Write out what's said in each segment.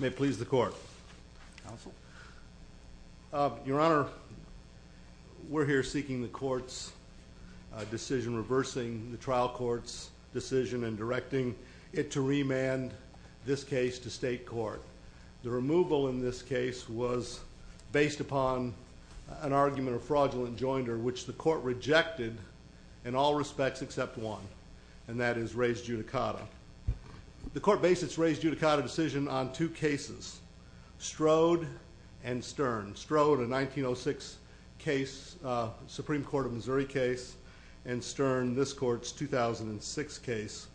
May it please the court. Counsel? Your Honor, we're here seeking the court's decision, reversing the trial court's decision and directing it to remand this case to state court. The removal in this case was based upon an argument of fraudulent joinder which the court rejected in all respects except one, and that is raised judicata. The court basis raised judicata decision on two cases, Strode and Stern. Strode, a 1906 case, Supreme Court of Missouri case, and Stern, this court's 2006 case,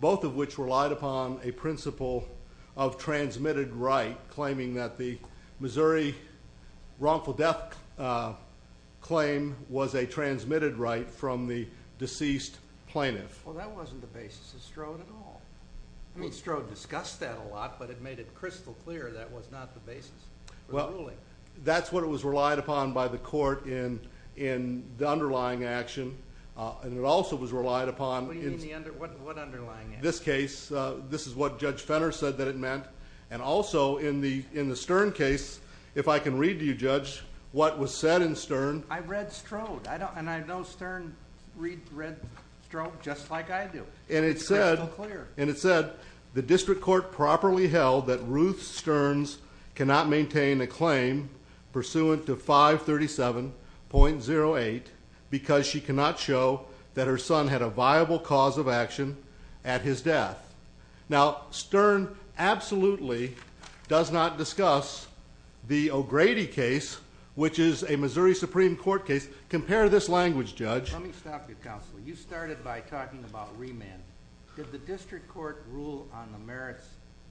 both of which relied upon a principle of transmitted right claiming that the Missouri wrongful death claim was a transmitted right from the deceased plaintiff. Well, that wasn't the basis of Strode at all. I mean, Strode discussed that a lot, but it made it crystal clear that was not the basis of the ruling. Well, that's what it was relied upon by the court in the underlying action, and it also was relied upon in... What do you mean, what underlying action? This case, this is what Judge Fenner said that it meant, and also in the Stern case, if I can read to you, Judge, what was said in Stern... I read Strode, and I know Stern read Strode just like I do. And it said, the district court properly held that Ruth Sterns cannot maintain a claim pursuant to 537.08 because she cannot show that her son had a viable cause of action at his death. Now, Stern absolutely does not discuss the O'Grady case, which is a Missouri Supreme Court case. Compare this language, Judge. Let me stop you, Counselor. You started by talking about remand. Did the district court rule on the merits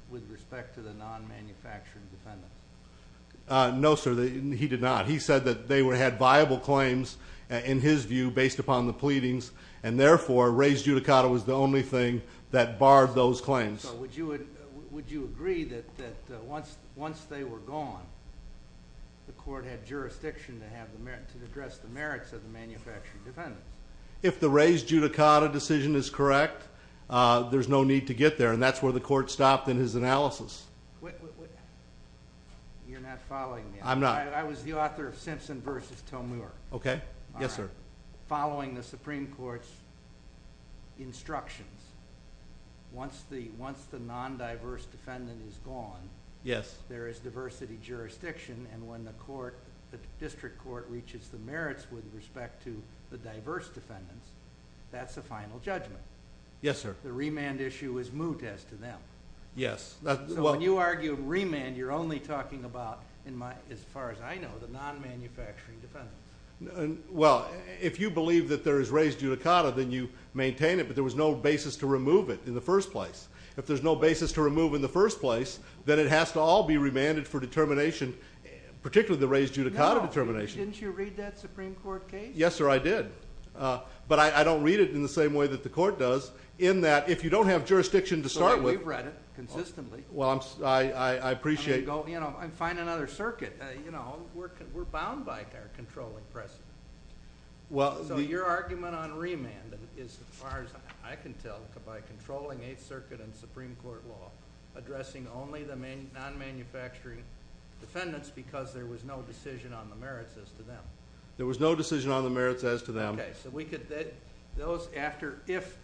with respect to the non-manufactured defendant? No, sir, he did not. He said that they had viable claims, in his view, based upon the pleadings, and therefore, raised judicata was the only thing that barred those claims. Would you agree that once they were gone, the court had jurisdiction to address the merits of the manufactured defendants? If the raised judicata decision is correct, there's no need to get there, and that's where the court stopped in his analysis. You're not following me. I'm not. I was the author of Simpson v. Tomure. Okay. Yes, sir. Following the Supreme Court's instructions, once the non-diverse defendant is gone, there is diversity jurisdiction, and when the district court reaches the merits with respect to the diverse defendants, that's the final judgment. Yes, sir. The remand issue is moot as to them. Yes. So when you argue remand, you're only talking about, as far as I know, the non-manufactured defendants. Well, if you believe that there is raised judicata, then you maintain it, but there was no basis to remove it in the first place. If there's no basis to remove in the first place, then it has to all be remanded for determination, particularly the raised judicata determination. No, didn't you read that Supreme Court case? Yes, sir, I did, but I don't read it in the same way that the court does, in that if you don't have jurisdiction to start with. Sure, we've read it consistently. Well, I appreciate it. And you go, you know, find another circuit. You know, we're bound by our controlling precedent. So your argument on remand is, as far as I can tell, by controlling Eighth Circuit and Supreme Court law, addressing only the non-manufactured defendants because there was no decision on the merits as to them. There was no decision on the merits as to them. Okay, so we could, those after, if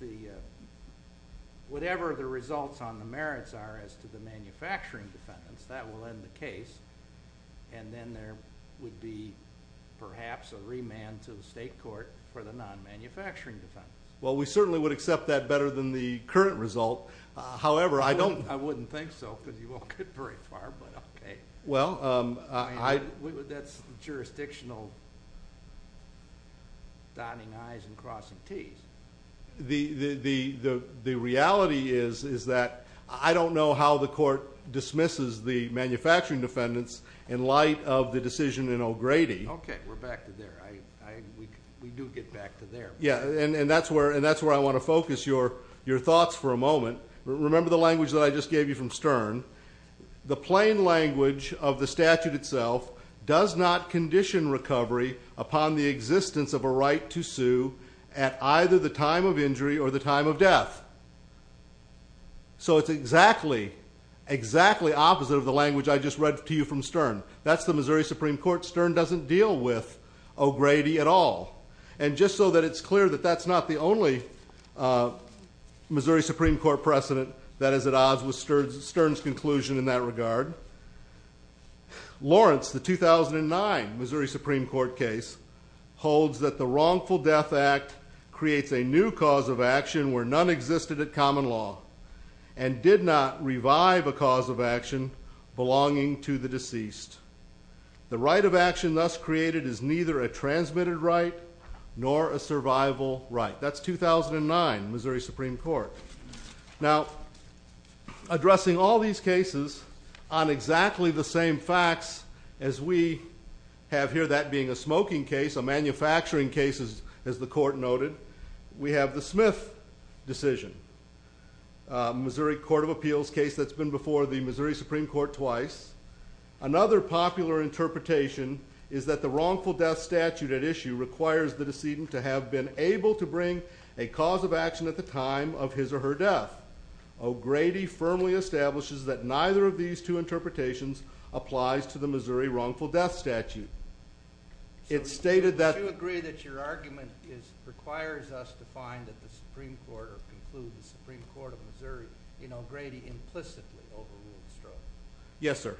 the, whatever the results on the merits are as to the manufacturing defendants, that will end the case, and then there would be perhaps a remand to the state court for the non-manufacturing defendants. Well, we certainly would accept that better than the current result. However, I don't. I wouldn't think so because you won't get very far, but okay. Well, I. That's jurisdictional dotting I's and crossing T's. The reality is that I don't know how the court dismisses the manufacturing defendants in light of the decision in O'Grady. Okay, we're back to there. We do get back to there. Yeah, and that's where I want to focus your thoughts for a moment. Remember the language that I just gave you from Stern. The plain language of the statute itself does not condition recovery upon the existence of a right to sue at either the time of injury or the time of death. So it's exactly, exactly opposite of the language I just read to you from Stern. That's the Missouri Supreme Court. Stern doesn't deal with O'Grady at all. And just so that it's clear that that's not the only Missouri Supreme Court precedent that is at odds with Stern's conclusion in that regard, Lawrence, the 2009 Missouri Supreme Court case, holds that the Wrongful Death Act creates a new cause of action where none existed at common law and did not revive a cause of action belonging to the deceased. The right of action thus created is neither a transmitted right nor a survival right. That's 2009 Missouri Supreme Court. Now, addressing all these cases on exactly the same facts as we have here, that being a smoking case, a manufacturing case, as the court noted, we have the Smith decision, Missouri Court of Appeals case that's been before the Missouri Supreme Court twice. Another popular interpretation is that the wrongful death statute at issue requires the decedent to have been able to bring a cause of action at the time of his or her death. O'Grady firmly establishes that neither of these two interpretations applies to the Missouri wrongful death statute. It's stated that... Do you agree that your argument requires us to find that the Supreme Court or conclude the Supreme Court of Missouri in O'Grady implicitly overruled Strode? Yes, sir.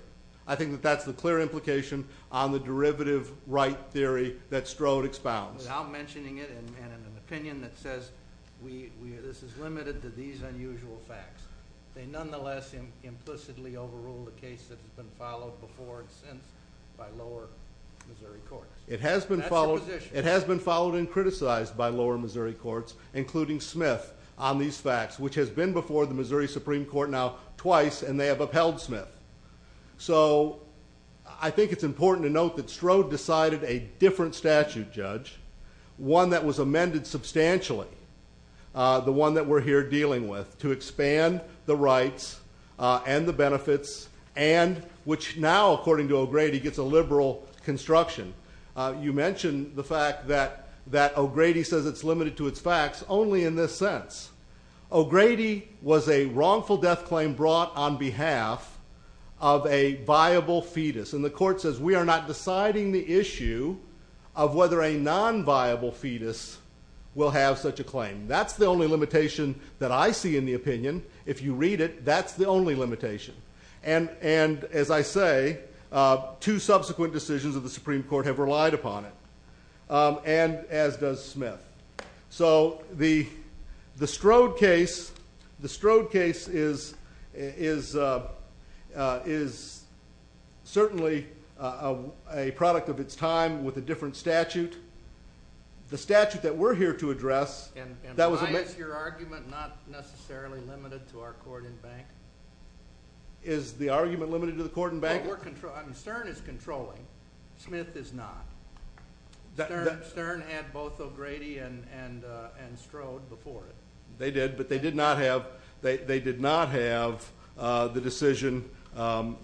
I think that that's the clear implication on the derivative right theory that Strode expounds. Without mentioning it and in an opinion that says this is limited to these unusual facts, they nonetheless implicitly overruled a case that has been followed before and since by lower Missouri courts. It has been followed and criticized by lower Missouri courts, including Smith, on these facts, which has been before the Missouri Supreme Court now twice, and they have upheld Smith. So I think it's important to note that Strode decided a different statute, Judge, one that was amended substantially, the one that we're here dealing with, to expand the rights and the benefits and which now, according to O'Grady, gets a liberal construction. You mentioned the fact that O'Grady says it's limited to its facts only in this sense. O'Grady was a wrongful death claim brought on behalf of a viable fetus. And the court says we are not deciding the issue of whether a non-viable fetus will have such a claim. That's the only limitation that I see in the opinion. If you read it, that's the only limitation. And as I say, two subsequent decisions of the Supreme Court have relied upon it, and as does Smith. So the Strode case is certainly a product of its time with a different statute. The statute that we're here to address that was amended. And why is your argument not necessarily limited to our court and bank? Is the argument limited to the court and bank? Stern is controlling. Smith is not. Stern had both O'Grady and Strode before it. They did, but they did not have the decision that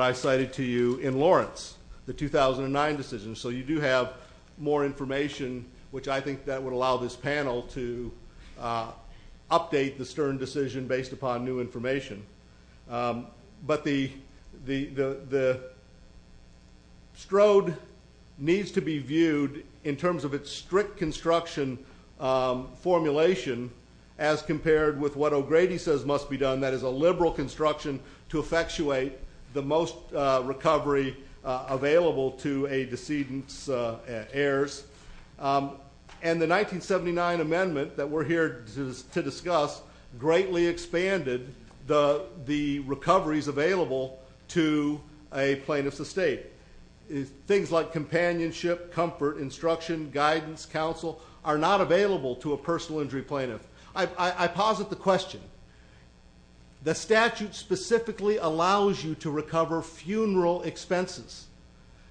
I cited to you in Lawrence, the 2009 decision. So you do have more information, which I think that would allow this panel to update the Stern decision based upon new information. But the Strode needs to be viewed in terms of its strict construction formulation as compared with what O'Grady says must be done, that is a liberal construction to effectuate the most recovery available to a decedent's heirs. And the 1979 amendment that we're here to discuss greatly expanded the recoveries available to a plaintiff's estate. Things like companionship, comfort, instruction, guidance, counsel are not available to a personal injury plaintiff. I posit the question. The statute specifically allows you to recover funeral expenses.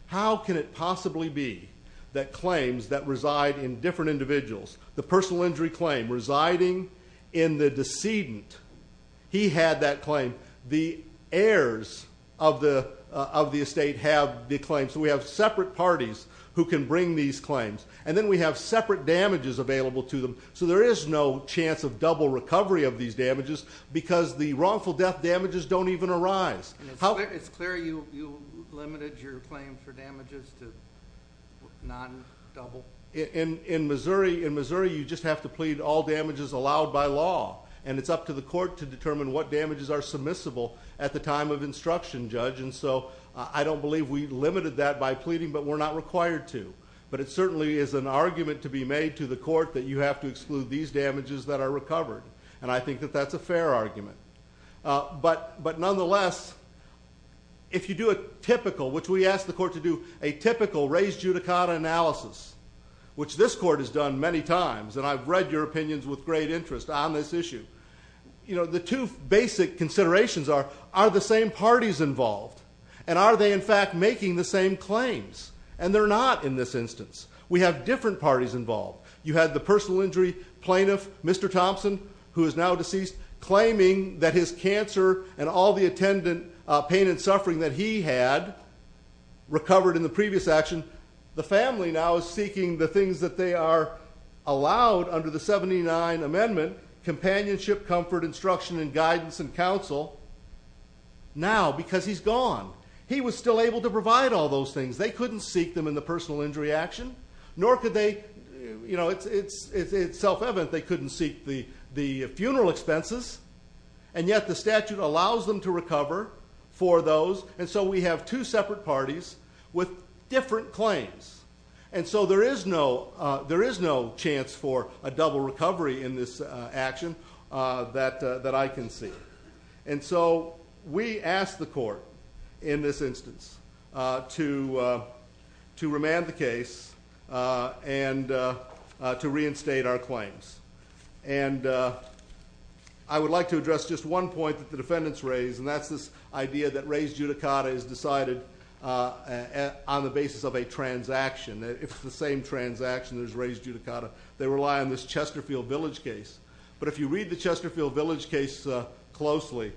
How can it possibly be that claims that reside in different individuals, the personal injury claim residing in the decedent, he had that claim. The heirs of the estate have the claim. So we have separate parties who can bring these claims. And then we have separate damages available to them. So there is no chance of double recovery of these damages because the wrongful death damages don't even arise. It's clear you limited your claim for damages to non-double? In Missouri, you just have to plead all damages allowed by law. And it's up to the court to determine what damages are submissible at the time of instruction, Judge. And so I don't believe we limited that by pleading, but we're not required to. But it certainly is an argument to be made to the court that you have to exclude these damages that are recovered. And I think that that's a fair argument. But nonetheless, if you do a typical, which we ask the court to do a typical raised judicata analysis, which this court has done many times, and I've read your opinions with great interest on this issue. You know, the two basic considerations are, are the same parties involved? And are they, in fact, making the same claims? And they're not in this instance. We have different parties involved. You had the personal injury plaintiff, Mr. Thompson, who is now deceased, claiming that his cancer and all the attendant pain and suffering that he had recovered in the previous action. The family now is seeking the things that they are allowed under the 79 Amendment, companionship, comfort, instruction, and guidance and counsel, now because he's gone. He was still able to provide all those things. They couldn't seek them in the personal injury action. Nor could they, you know, it's self-evident they couldn't seek the funeral expenses. And yet the statute allows them to recover for those. And so we have two separate parties with different claims. And so there is no chance for a double recovery in this action that I can see. And so we asked the court in this instance to remand the case and to reinstate our claims. And I would like to address just one point that the defendants raised, and that's this idea that reis judicata is decided on the basis of a transaction. If it's the same transaction, there's reis judicata. They rely on this Chesterfield Village case. But if you read the Chesterfield Village case closely,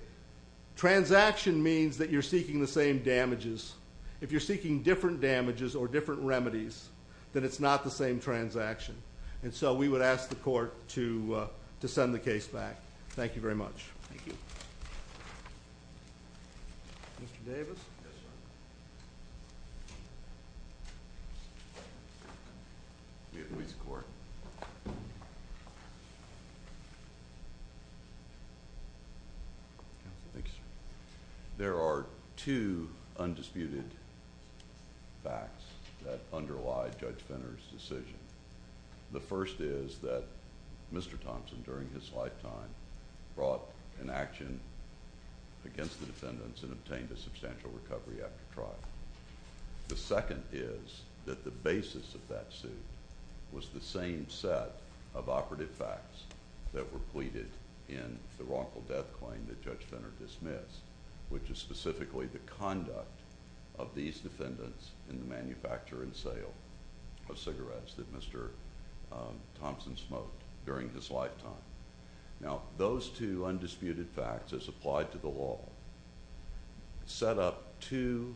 transaction means that you're seeking the same damages. If you're seeking different damages or different remedies, then it's not the same transaction. And so we would ask the court to send the case back. Thank you very much. Thank you. Mr. Davis? Yes, sir. May it please the court. Thank you, sir. There are two undisputed facts that underlie Judge Fenner's decision. The first is that Mr. Thompson, during his lifetime, brought an action against the defendants and obtained a substantial recovery after trial. The second is that the basis of that suit was the same set of operative facts that were pleaded in the wrongful death claim that Judge Fenner dismissed, which is specifically the conduct of these defendants in the manufacture and sale of cigarettes that Mr. Thompson smoked during his lifetime. Now, those two undisputed facts, as applied to the law, set up two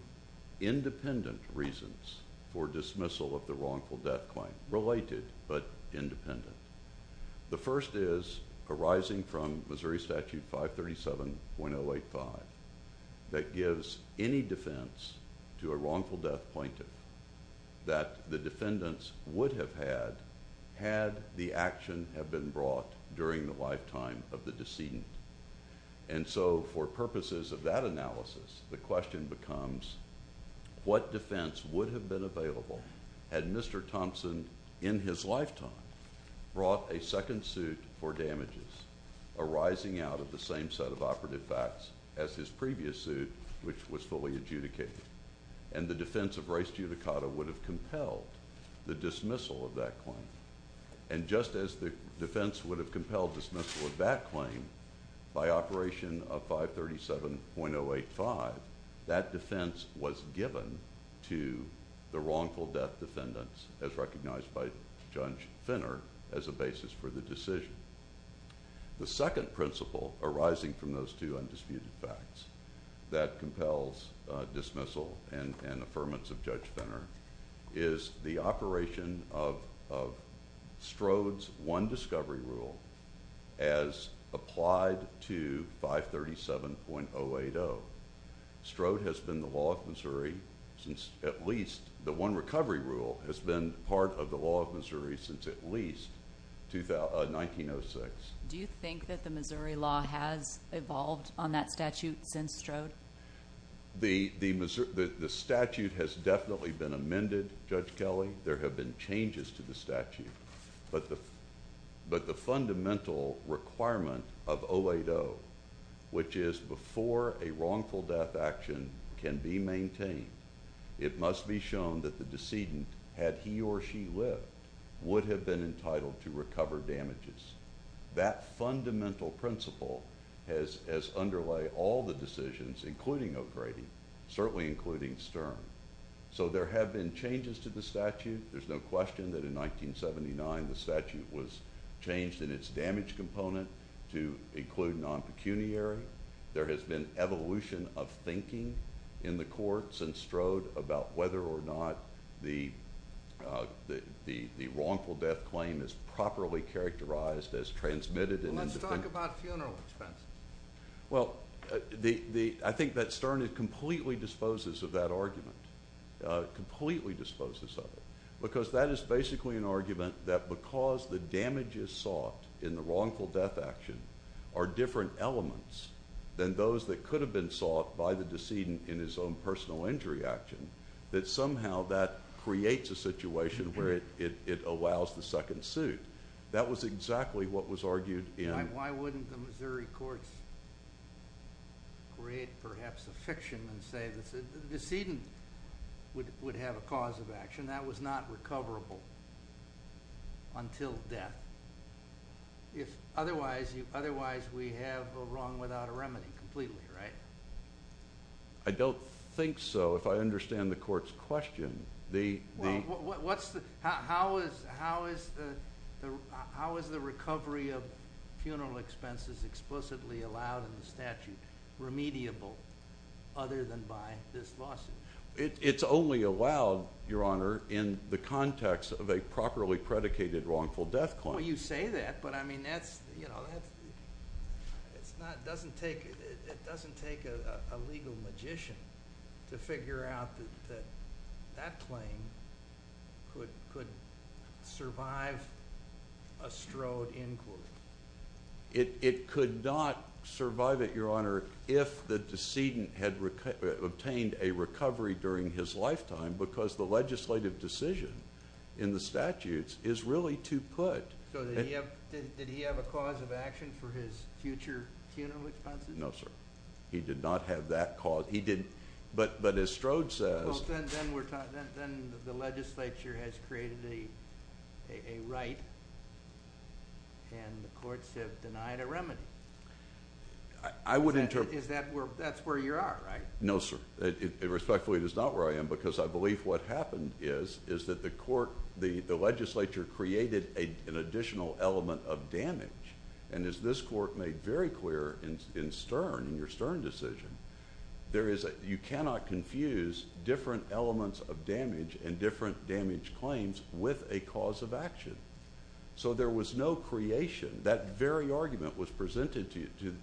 independent reasons for dismissal of the wrongful death claim, related but independent. The first is arising from Missouri Statute 537.085 that gives any defense to a wrongful death plaintiff that the defendants would have had had the action have been brought during the lifetime of the decedent. And so for purposes of that analysis, the question becomes, what defense would have been available had Mr. Thompson, in his lifetime, brought a second suit for damages arising out of the same set of operative facts as his previous suit, which was fully adjudicated? And the defense of res judicata would have compelled the dismissal of that claim. And just as the defense would have compelled dismissal of that claim, by operation of 537.085, that defense was given to the wrongful death defendants, as recognized by Judge Fenner, as a basis for the decision. The second principle arising from those two undisputed facts that compels dismissal and affirmance of Judge Fenner is the operation of Strode's One Discovery Rule as applied to 537.080. Strode has been the law of Missouri since at least the One Recovery Rule has been part of the law of Missouri since at least 1906. Do you think that the Missouri law has evolved on that statute since Strode? The statute has definitely been amended, Judge Kelly. There have been changes to the statute. But the fundamental requirement of 080, which is before a wrongful death action can be maintained, it must be shown that the decedent, had he or she lived, would have been entitled to recover damages. That fundamental principle has underlay all the decisions, including O'Grady, certainly including Stern. So there have been changes to the statute. There's no question that in 1979 the statute was changed in its damage component to include non-pecuniary. There has been evolution of thinking in the court since Strode about whether or not the wrongful death claim is properly characterized as transmitted and independent. Let's talk about funeral expenses. Well, I think that Stern completely disposes of that argument, completely disposes of it, because that is basically an argument that because the damages sought in the wrongful death action are different elements than those that could have been sought by the decedent in his own personal injury action, that somehow that creates a situation where it allows the second suit. That was exactly what was argued in- Why wouldn't the Missouri courts create perhaps a fiction and say the decedent would have a cause of action? That was not recoverable until death. Otherwise we have a wrong without a remedy completely, right? I don't think so, if I understand the court's question. How is the recovery of funeral expenses explicitly allowed in the statute remediable other than by this lawsuit? It's only allowed, Your Honor, in the context of a properly predicated wrongful death claim. Well, you say that, but it doesn't take a legal magician to figure out that that claim could survive a strode inquiry. It could not survive it, Your Honor, if the decedent had obtained a recovery during his lifetime because the legislative decision in the statutes is really to put. Did he have a cause of action for his future funeral expenses? No, sir. He did not have that cause. But as Strode says- Then the legislature has created a right, and the courts have denied a remedy. I would interpret- That's where you are, right? No, sir. It respectfully is not where I am because I believe what happened is that the legislature created an additional element of damage. And as this court made very clear in Stern, in your Stern decision, you cannot confuse different elements of damage and different damage claims with a cause of action. So there was no creation. That very argument was presented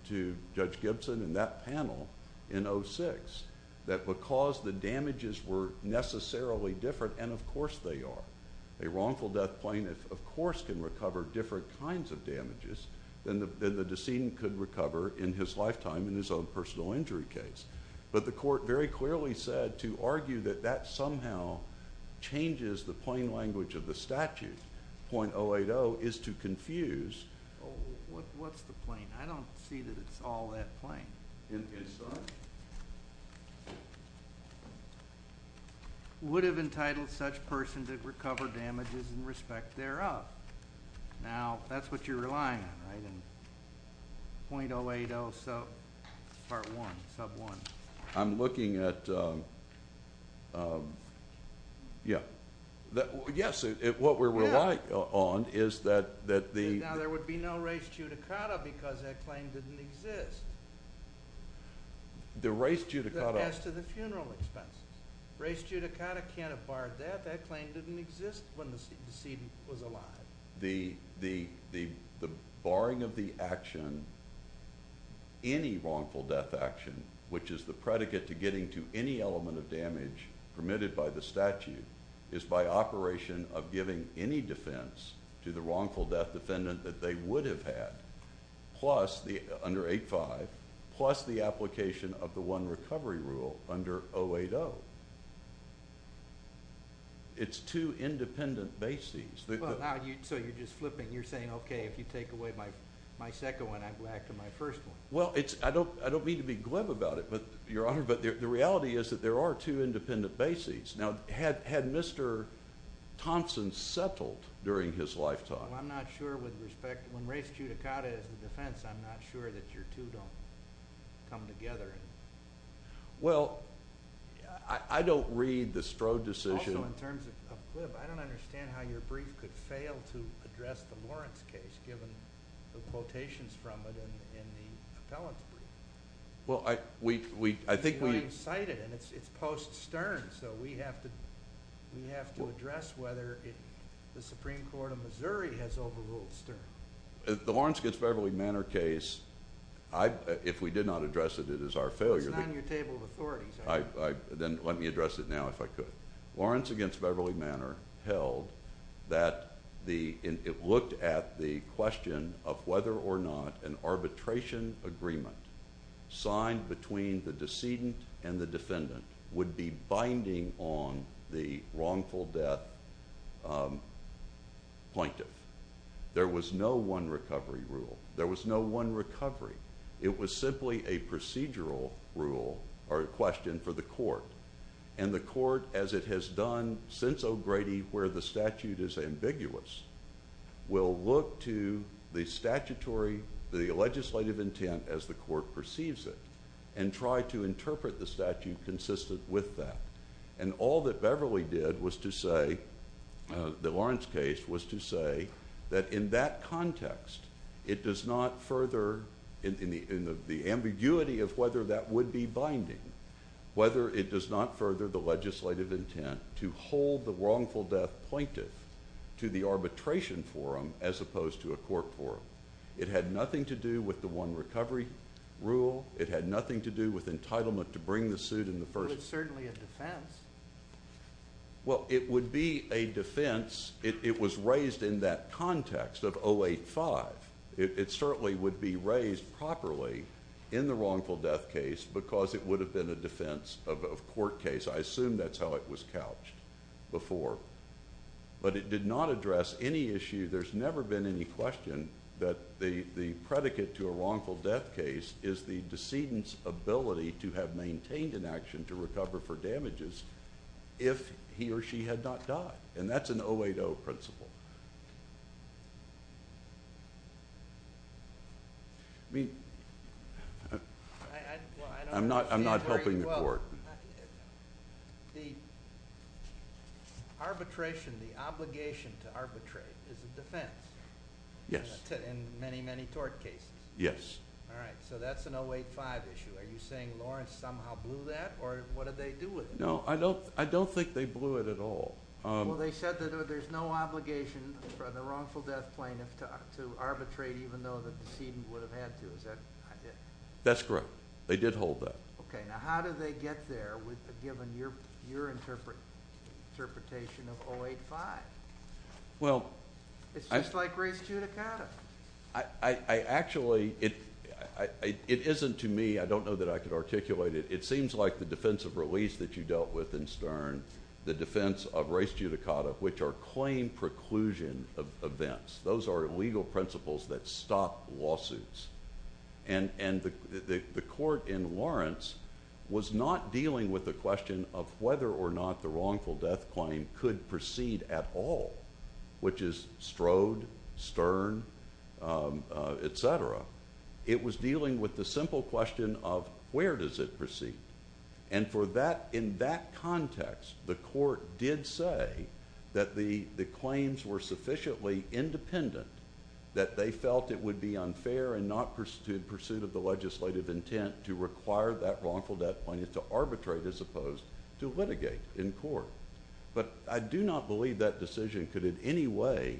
to Judge Gibson in that panel in 06 that because the damages were necessarily different, and, of course, they are. A wrongful death plaintiff, of course, can recover different kinds of damages than the decedent could recover in his lifetime in his own personal injury case. But the court very clearly said to argue that that somehow changes the plain language of the statute, 0.080, is to confuse- What's the plain? I don't see that it's all that plain. In Stern? Would have entitled such person to recover damages in respect thereof. Now, that's what you're relying on, right? 0.080, so Part 1, Sub 1. I'm looking at- Yes, what we're relying on is that the- The res judicata- As to the funeral expenses. Res judicata can't have barred that. That claim didn't exist when the decedent was alive. The barring of the action, any wrongful death action, which is the predicate to getting to any element of damage permitted by the statute, is by operation of giving any defense to the wrongful death defendant that they would have had, under 8.5, plus the application of the one recovery rule under 0.80. It's two independent bases. So you're just flipping. You're saying, okay, if you take away my second one, I go back to my first one. Well, I don't mean to be glib about it, Your Honor, but the reality is that there are two independent bases. Now, had Mr. Thompson settled during his lifetime- Well, I'm not sure with respect- When res judicata is the defense, I'm not sure that your two don't come together. Well, I don't read the Strode decision- Also, in terms of glib, I don't understand how your brief could fail to address the Lawrence case, given the quotations from it in the appellant's brief. Well, I think we- The Lawrence v. Beverly Manor case, if we did not address it, it is our failure- It's not on your table of authorities. Then let me address it now, if I could. Lawrence v. Beverly Manor held that it looked at the question of whether or not an arbitration agreement signed between the decedent and the defendant would be binding on the wrongful death plaintiff. There was no one recovery rule. There was no one recovery. It was simply a procedural question for the court, and the court, as it has done since O'Grady, where the statute is ambiguous, will look to the statutory, the legislative intent as the court perceives it and try to interpret the statute consistent with that. And all that Beverly did was to say, the Lawrence case was to say, that in that context, it does not further, in the ambiguity of whether that would be binding, whether it does not further the legislative intent to hold the wrongful death plaintiff to the arbitration forum as opposed to a court forum. It had nothing to do with the one recovery rule. It had nothing to do with entitlement to bring the suit in the first- Well, it's certainly a defense. Well, it would be a defense. It was raised in that context of 085. It certainly would be raised properly in the wrongful death case because it would have been a defense of a court case. I assume that's how it was couched before. But it did not address any issue. There's never been any question that the predicate to a wrongful death case is the decedent's ability to have maintained an action to recover for damages if he or she had not died. And that's an 080 principle. I mean, I'm not helping the court. The arbitration, the obligation to arbitrate is a defense in many, many tort cases. Yes. All right, so that's an 085 issue. Are you saying Lawrence somehow blew that, or what did they do with it? No, I don't think they blew it at all. Well, they said that there's no obligation for the wrongful death plaintiff to arbitrate even though the decedent would have had to. Is that correct? That's correct. They did hold that. Okay, now how did they get there given your interpretation of 085? Well, I— It's just like res judicata. Actually, it isn't to me. I don't know that I could articulate it. It seems like the defense of release that you dealt with in Stern, the defense of res judicata, which are claim preclusion events. Those are illegal principles that stop lawsuits. And the court in Lawrence was not dealing with the question of whether or not the wrongful death claim could proceed at all, which is Strode, Stern, etc. It was dealing with the simple question of where does it proceed? And in that context, the court did say that the claims were sufficiently independent that they felt it would be unfair and not in pursuit of the legislative intent to require that wrongful death plaintiff to arbitrate as opposed to litigate in court. But I do not believe that decision could in any way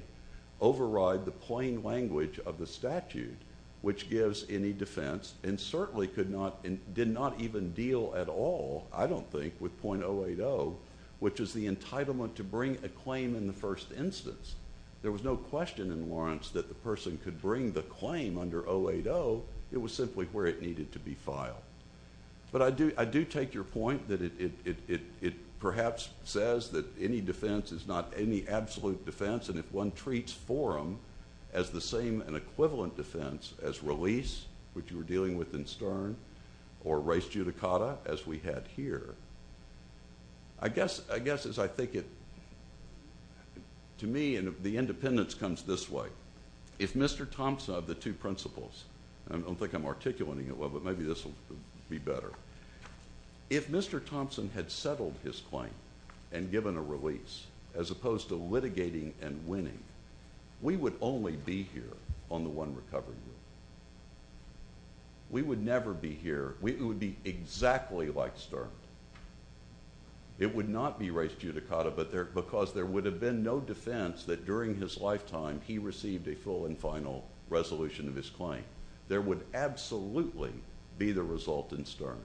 override the plain language of the statute which gives any defense and certainly did not even deal at all, I don't think, with 0.080, which is the entitlement to bring a claim in the first instance. There was no question in Lawrence that the person could bring the claim under 0.080. It was simply where it needed to be filed. But I do take your point that it perhaps says that any defense is not any absolute defense and if one treats forum as the same and equivalent defense as release, which you were dealing with in Stern, or res judicata as we had here, I guess as I think it, to me, the independence comes this way. If Mr. Thompson of the two principles, I don't think I'm articulating it well, but maybe this will be better. If Mr. Thompson had settled his claim and given a release as opposed to litigating and winning, we would only be here on the one recovery rule. We would never be here. It would be exactly like Stern. It would not be res judicata because there would have been no defense that during his lifetime he received a full and final resolution of his claim. There would absolutely be the result in Stern.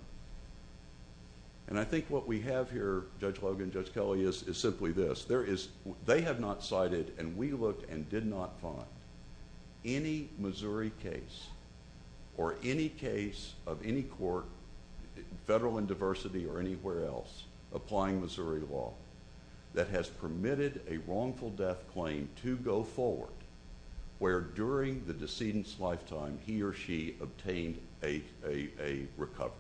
And I think what we have here, Judge Logan, Judge Kelly, is simply this. They have not cited and we looked and did not find any Missouri case or any case of any court, federal in diversity or anywhere else, applying Missouri law that has permitted a wrongful death claim to go forward where during the decedent's lifetime he or she obtained a recovery.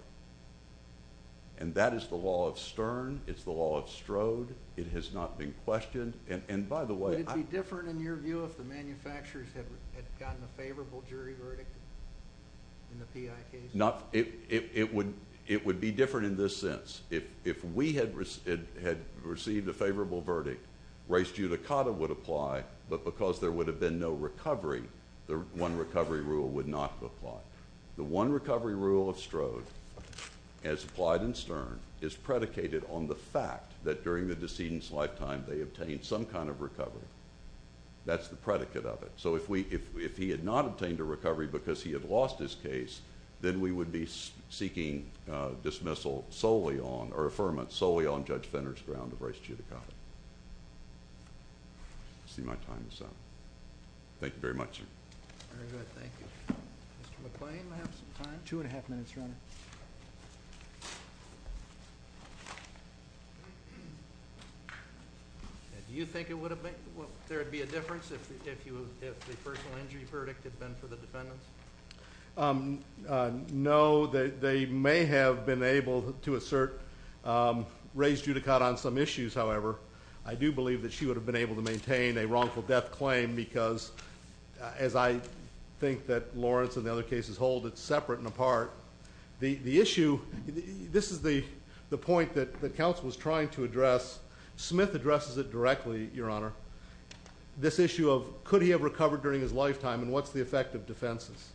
And that is the law of Stern. It's the law of Strode. It has not been questioned. Would it be different in your view if the manufacturers had gotten a favorable jury verdict in the P.I. case? It would be different in this sense. If we had received a favorable verdict, res judicata would apply, but because there would have been no recovery, the one recovery rule would not apply. The one recovery rule of Strode, as applied in Stern, is predicated on the fact that during the decedent's lifetime they obtained some kind of recovery. That's the predicate of it. So if he had not obtained a recovery because he had lost his case, then we would be seeking dismissal solely on or affirmance solely on Judge Fenner's ground of res judicata. I see my time is up. Thank you very much, sir. Very good. Thank you. Mr. McClain, do I have some time? Two and a half minutes, Your Honor. Do you think there would be a difference if the personal injury verdict had been for the defendants? No. They may have been able to assert res judicata on some issues, however. I do believe that she would have been able to maintain a wrongful death claim because, as I think that Lawrence and the other cases hold it separate and apart, the issue, this is the point that counsel was trying to address, Smith addresses it directly, Your Honor, this issue of could he have recovered during his lifetime and what's the effect of defenses.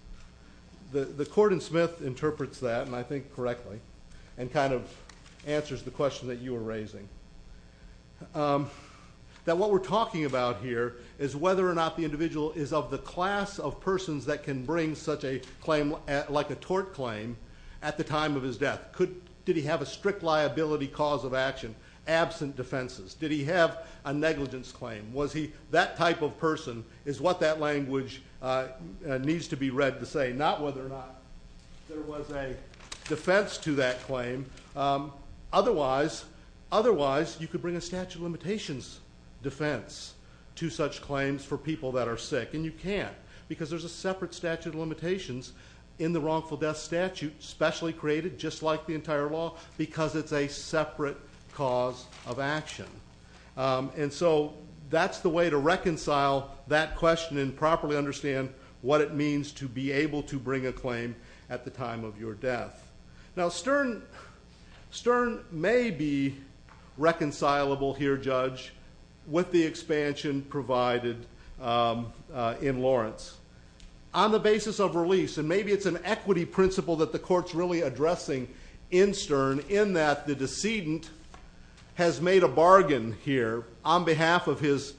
The court in Smith interprets that, and I think correctly, and kind of answers the question that you were raising. That what we're talking about here is whether or not the individual is of the class of persons that can bring such a claim like a tort claim at the time of his death. Did he have a strict liability cause of action, absent defenses? Did he have a negligence claim? Was he that type of person is what that language needs to be read to say, not whether or not there was a defense to that claim. Otherwise, you could bring a statute of limitations defense to such claims for people that are sick, and you can't because there's a separate statute of limitations in the wrongful death statute, specially created just like the entire law because it's a separate cause of action. And so that's the way to reconcile that question and properly understand what it means to be able to bring a claim at the time of your death. Now Stern may be reconcilable here, Judge, with the expansion provided in Lawrence. On the basis of release, and maybe it's an equity principle that the court's really addressing in Stern, in that the decedent has made a bargain here on behalf of his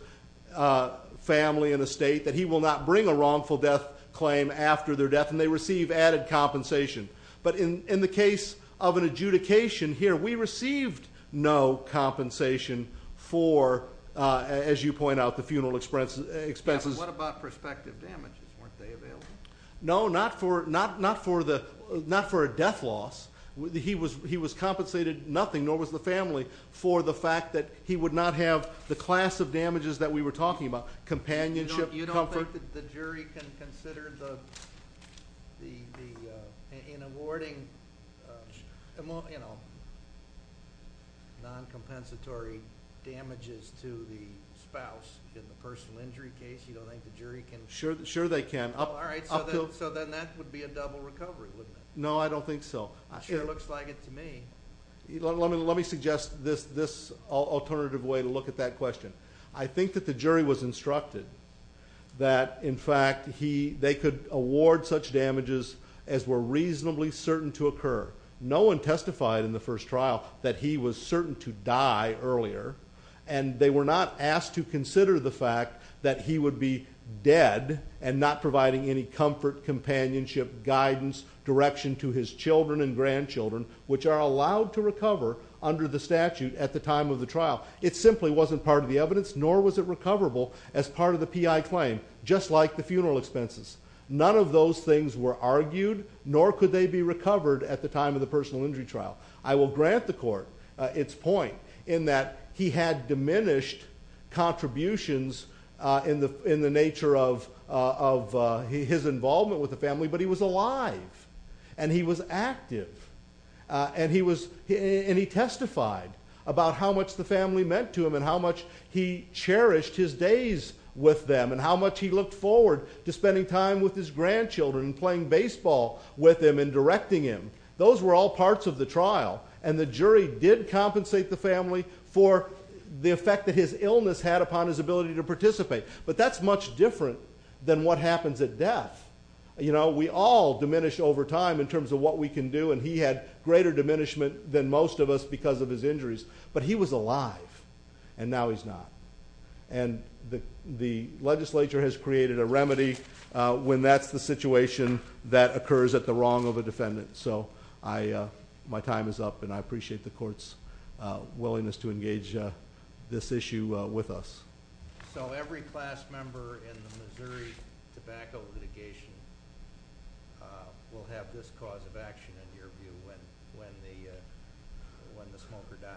family and estate that he will not bring a wrongful death claim after their death, and they receive added compensation. But in the case of an adjudication here, we received no compensation for, as you point out, the funeral expenses. Yeah, but what about prospective damages? Weren't they available? No, not for a death loss. He was compensated nothing, nor was the family, for the fact that he would not have the class of damages that we were talking about, companionship, comfort. The jury can consider in awarding non-compensatory damages to the spouse in the personal injury case? You don't think the jury can? Sure they can. All right, so then that would be a double recovery, wouldn't it? No, I don't think so. It sure looks like it to me. Let me suggest this alternative way to look at that question. I think that the jury was instructed that, in fact, they could award such damages as were reasonably certain to occur. No one testified in the first trial that he was certain to die earlier, and they were not asked to consider the fact that he would be dead and not providing any comfort, companionship, guidance, direction to his children and grandchildren, which are allowed to recover under the statute at the time of the trial. It simply wasn't part of the evidence, nor was it recoverable as part of the PI claim, just like the funeral expenses. None of those things were argued, nor could they be recovered at the time of the personal injury trial. I will grant the court its point in that he had diminished contributions in the nature of his involvement with the family, but he was alive, and he was active, and he testified about how much the family meant to him and how much he cherished his days with them and how much he looked forward to spending time with his grandchildren and playing baseball with them and directing them. Those were all parts of the trial, and the jury did compensate the family for the effect that his illness had upon his ability to participate. But that's much different than what happens at death. You know, we all diminish over time in terms of what we can do, and he had greater diminishment than most of us because of his injuries, but he was alive, and now he's not. And the legislature has created a remedy when that's the situation that occurs at the wrong of a defendant. So my time is up, and I appreciate the court's willingness to engage this issue with us. So every class member in the Missouri tobacco litigation will have this cause of action, in your view, when the smoker dies?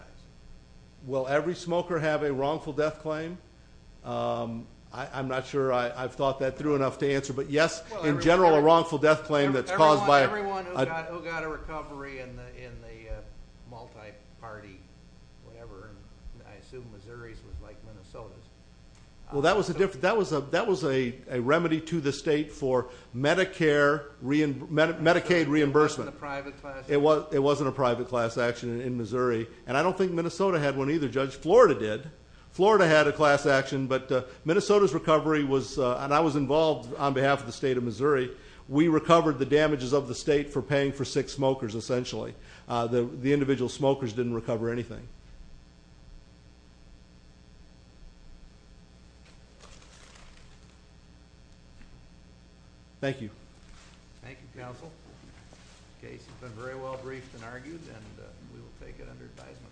Will every smoker have a wrongful death claim? I'm not sure I've thought that through enough to answer, but yes, in general, a wrongful death claim that's caused by a- Well, that was a remedy to the state for Medicare, Medicaid reimbursement. It wasn't a private class action. It wasn't a private class action in Missouri, and I don't think Minnesota had one either. Judge, Florida did. Florida had a class action, but Minnesota's recovery was, and I was involved on behalf of the state of Missouri, we recovered the damages of the state for paying for six smokers, essentially. The individual smokers didn't recover anything. Thank you. Thank you, counsel. The case has been very well briefed and argued, and we will take it under advisement.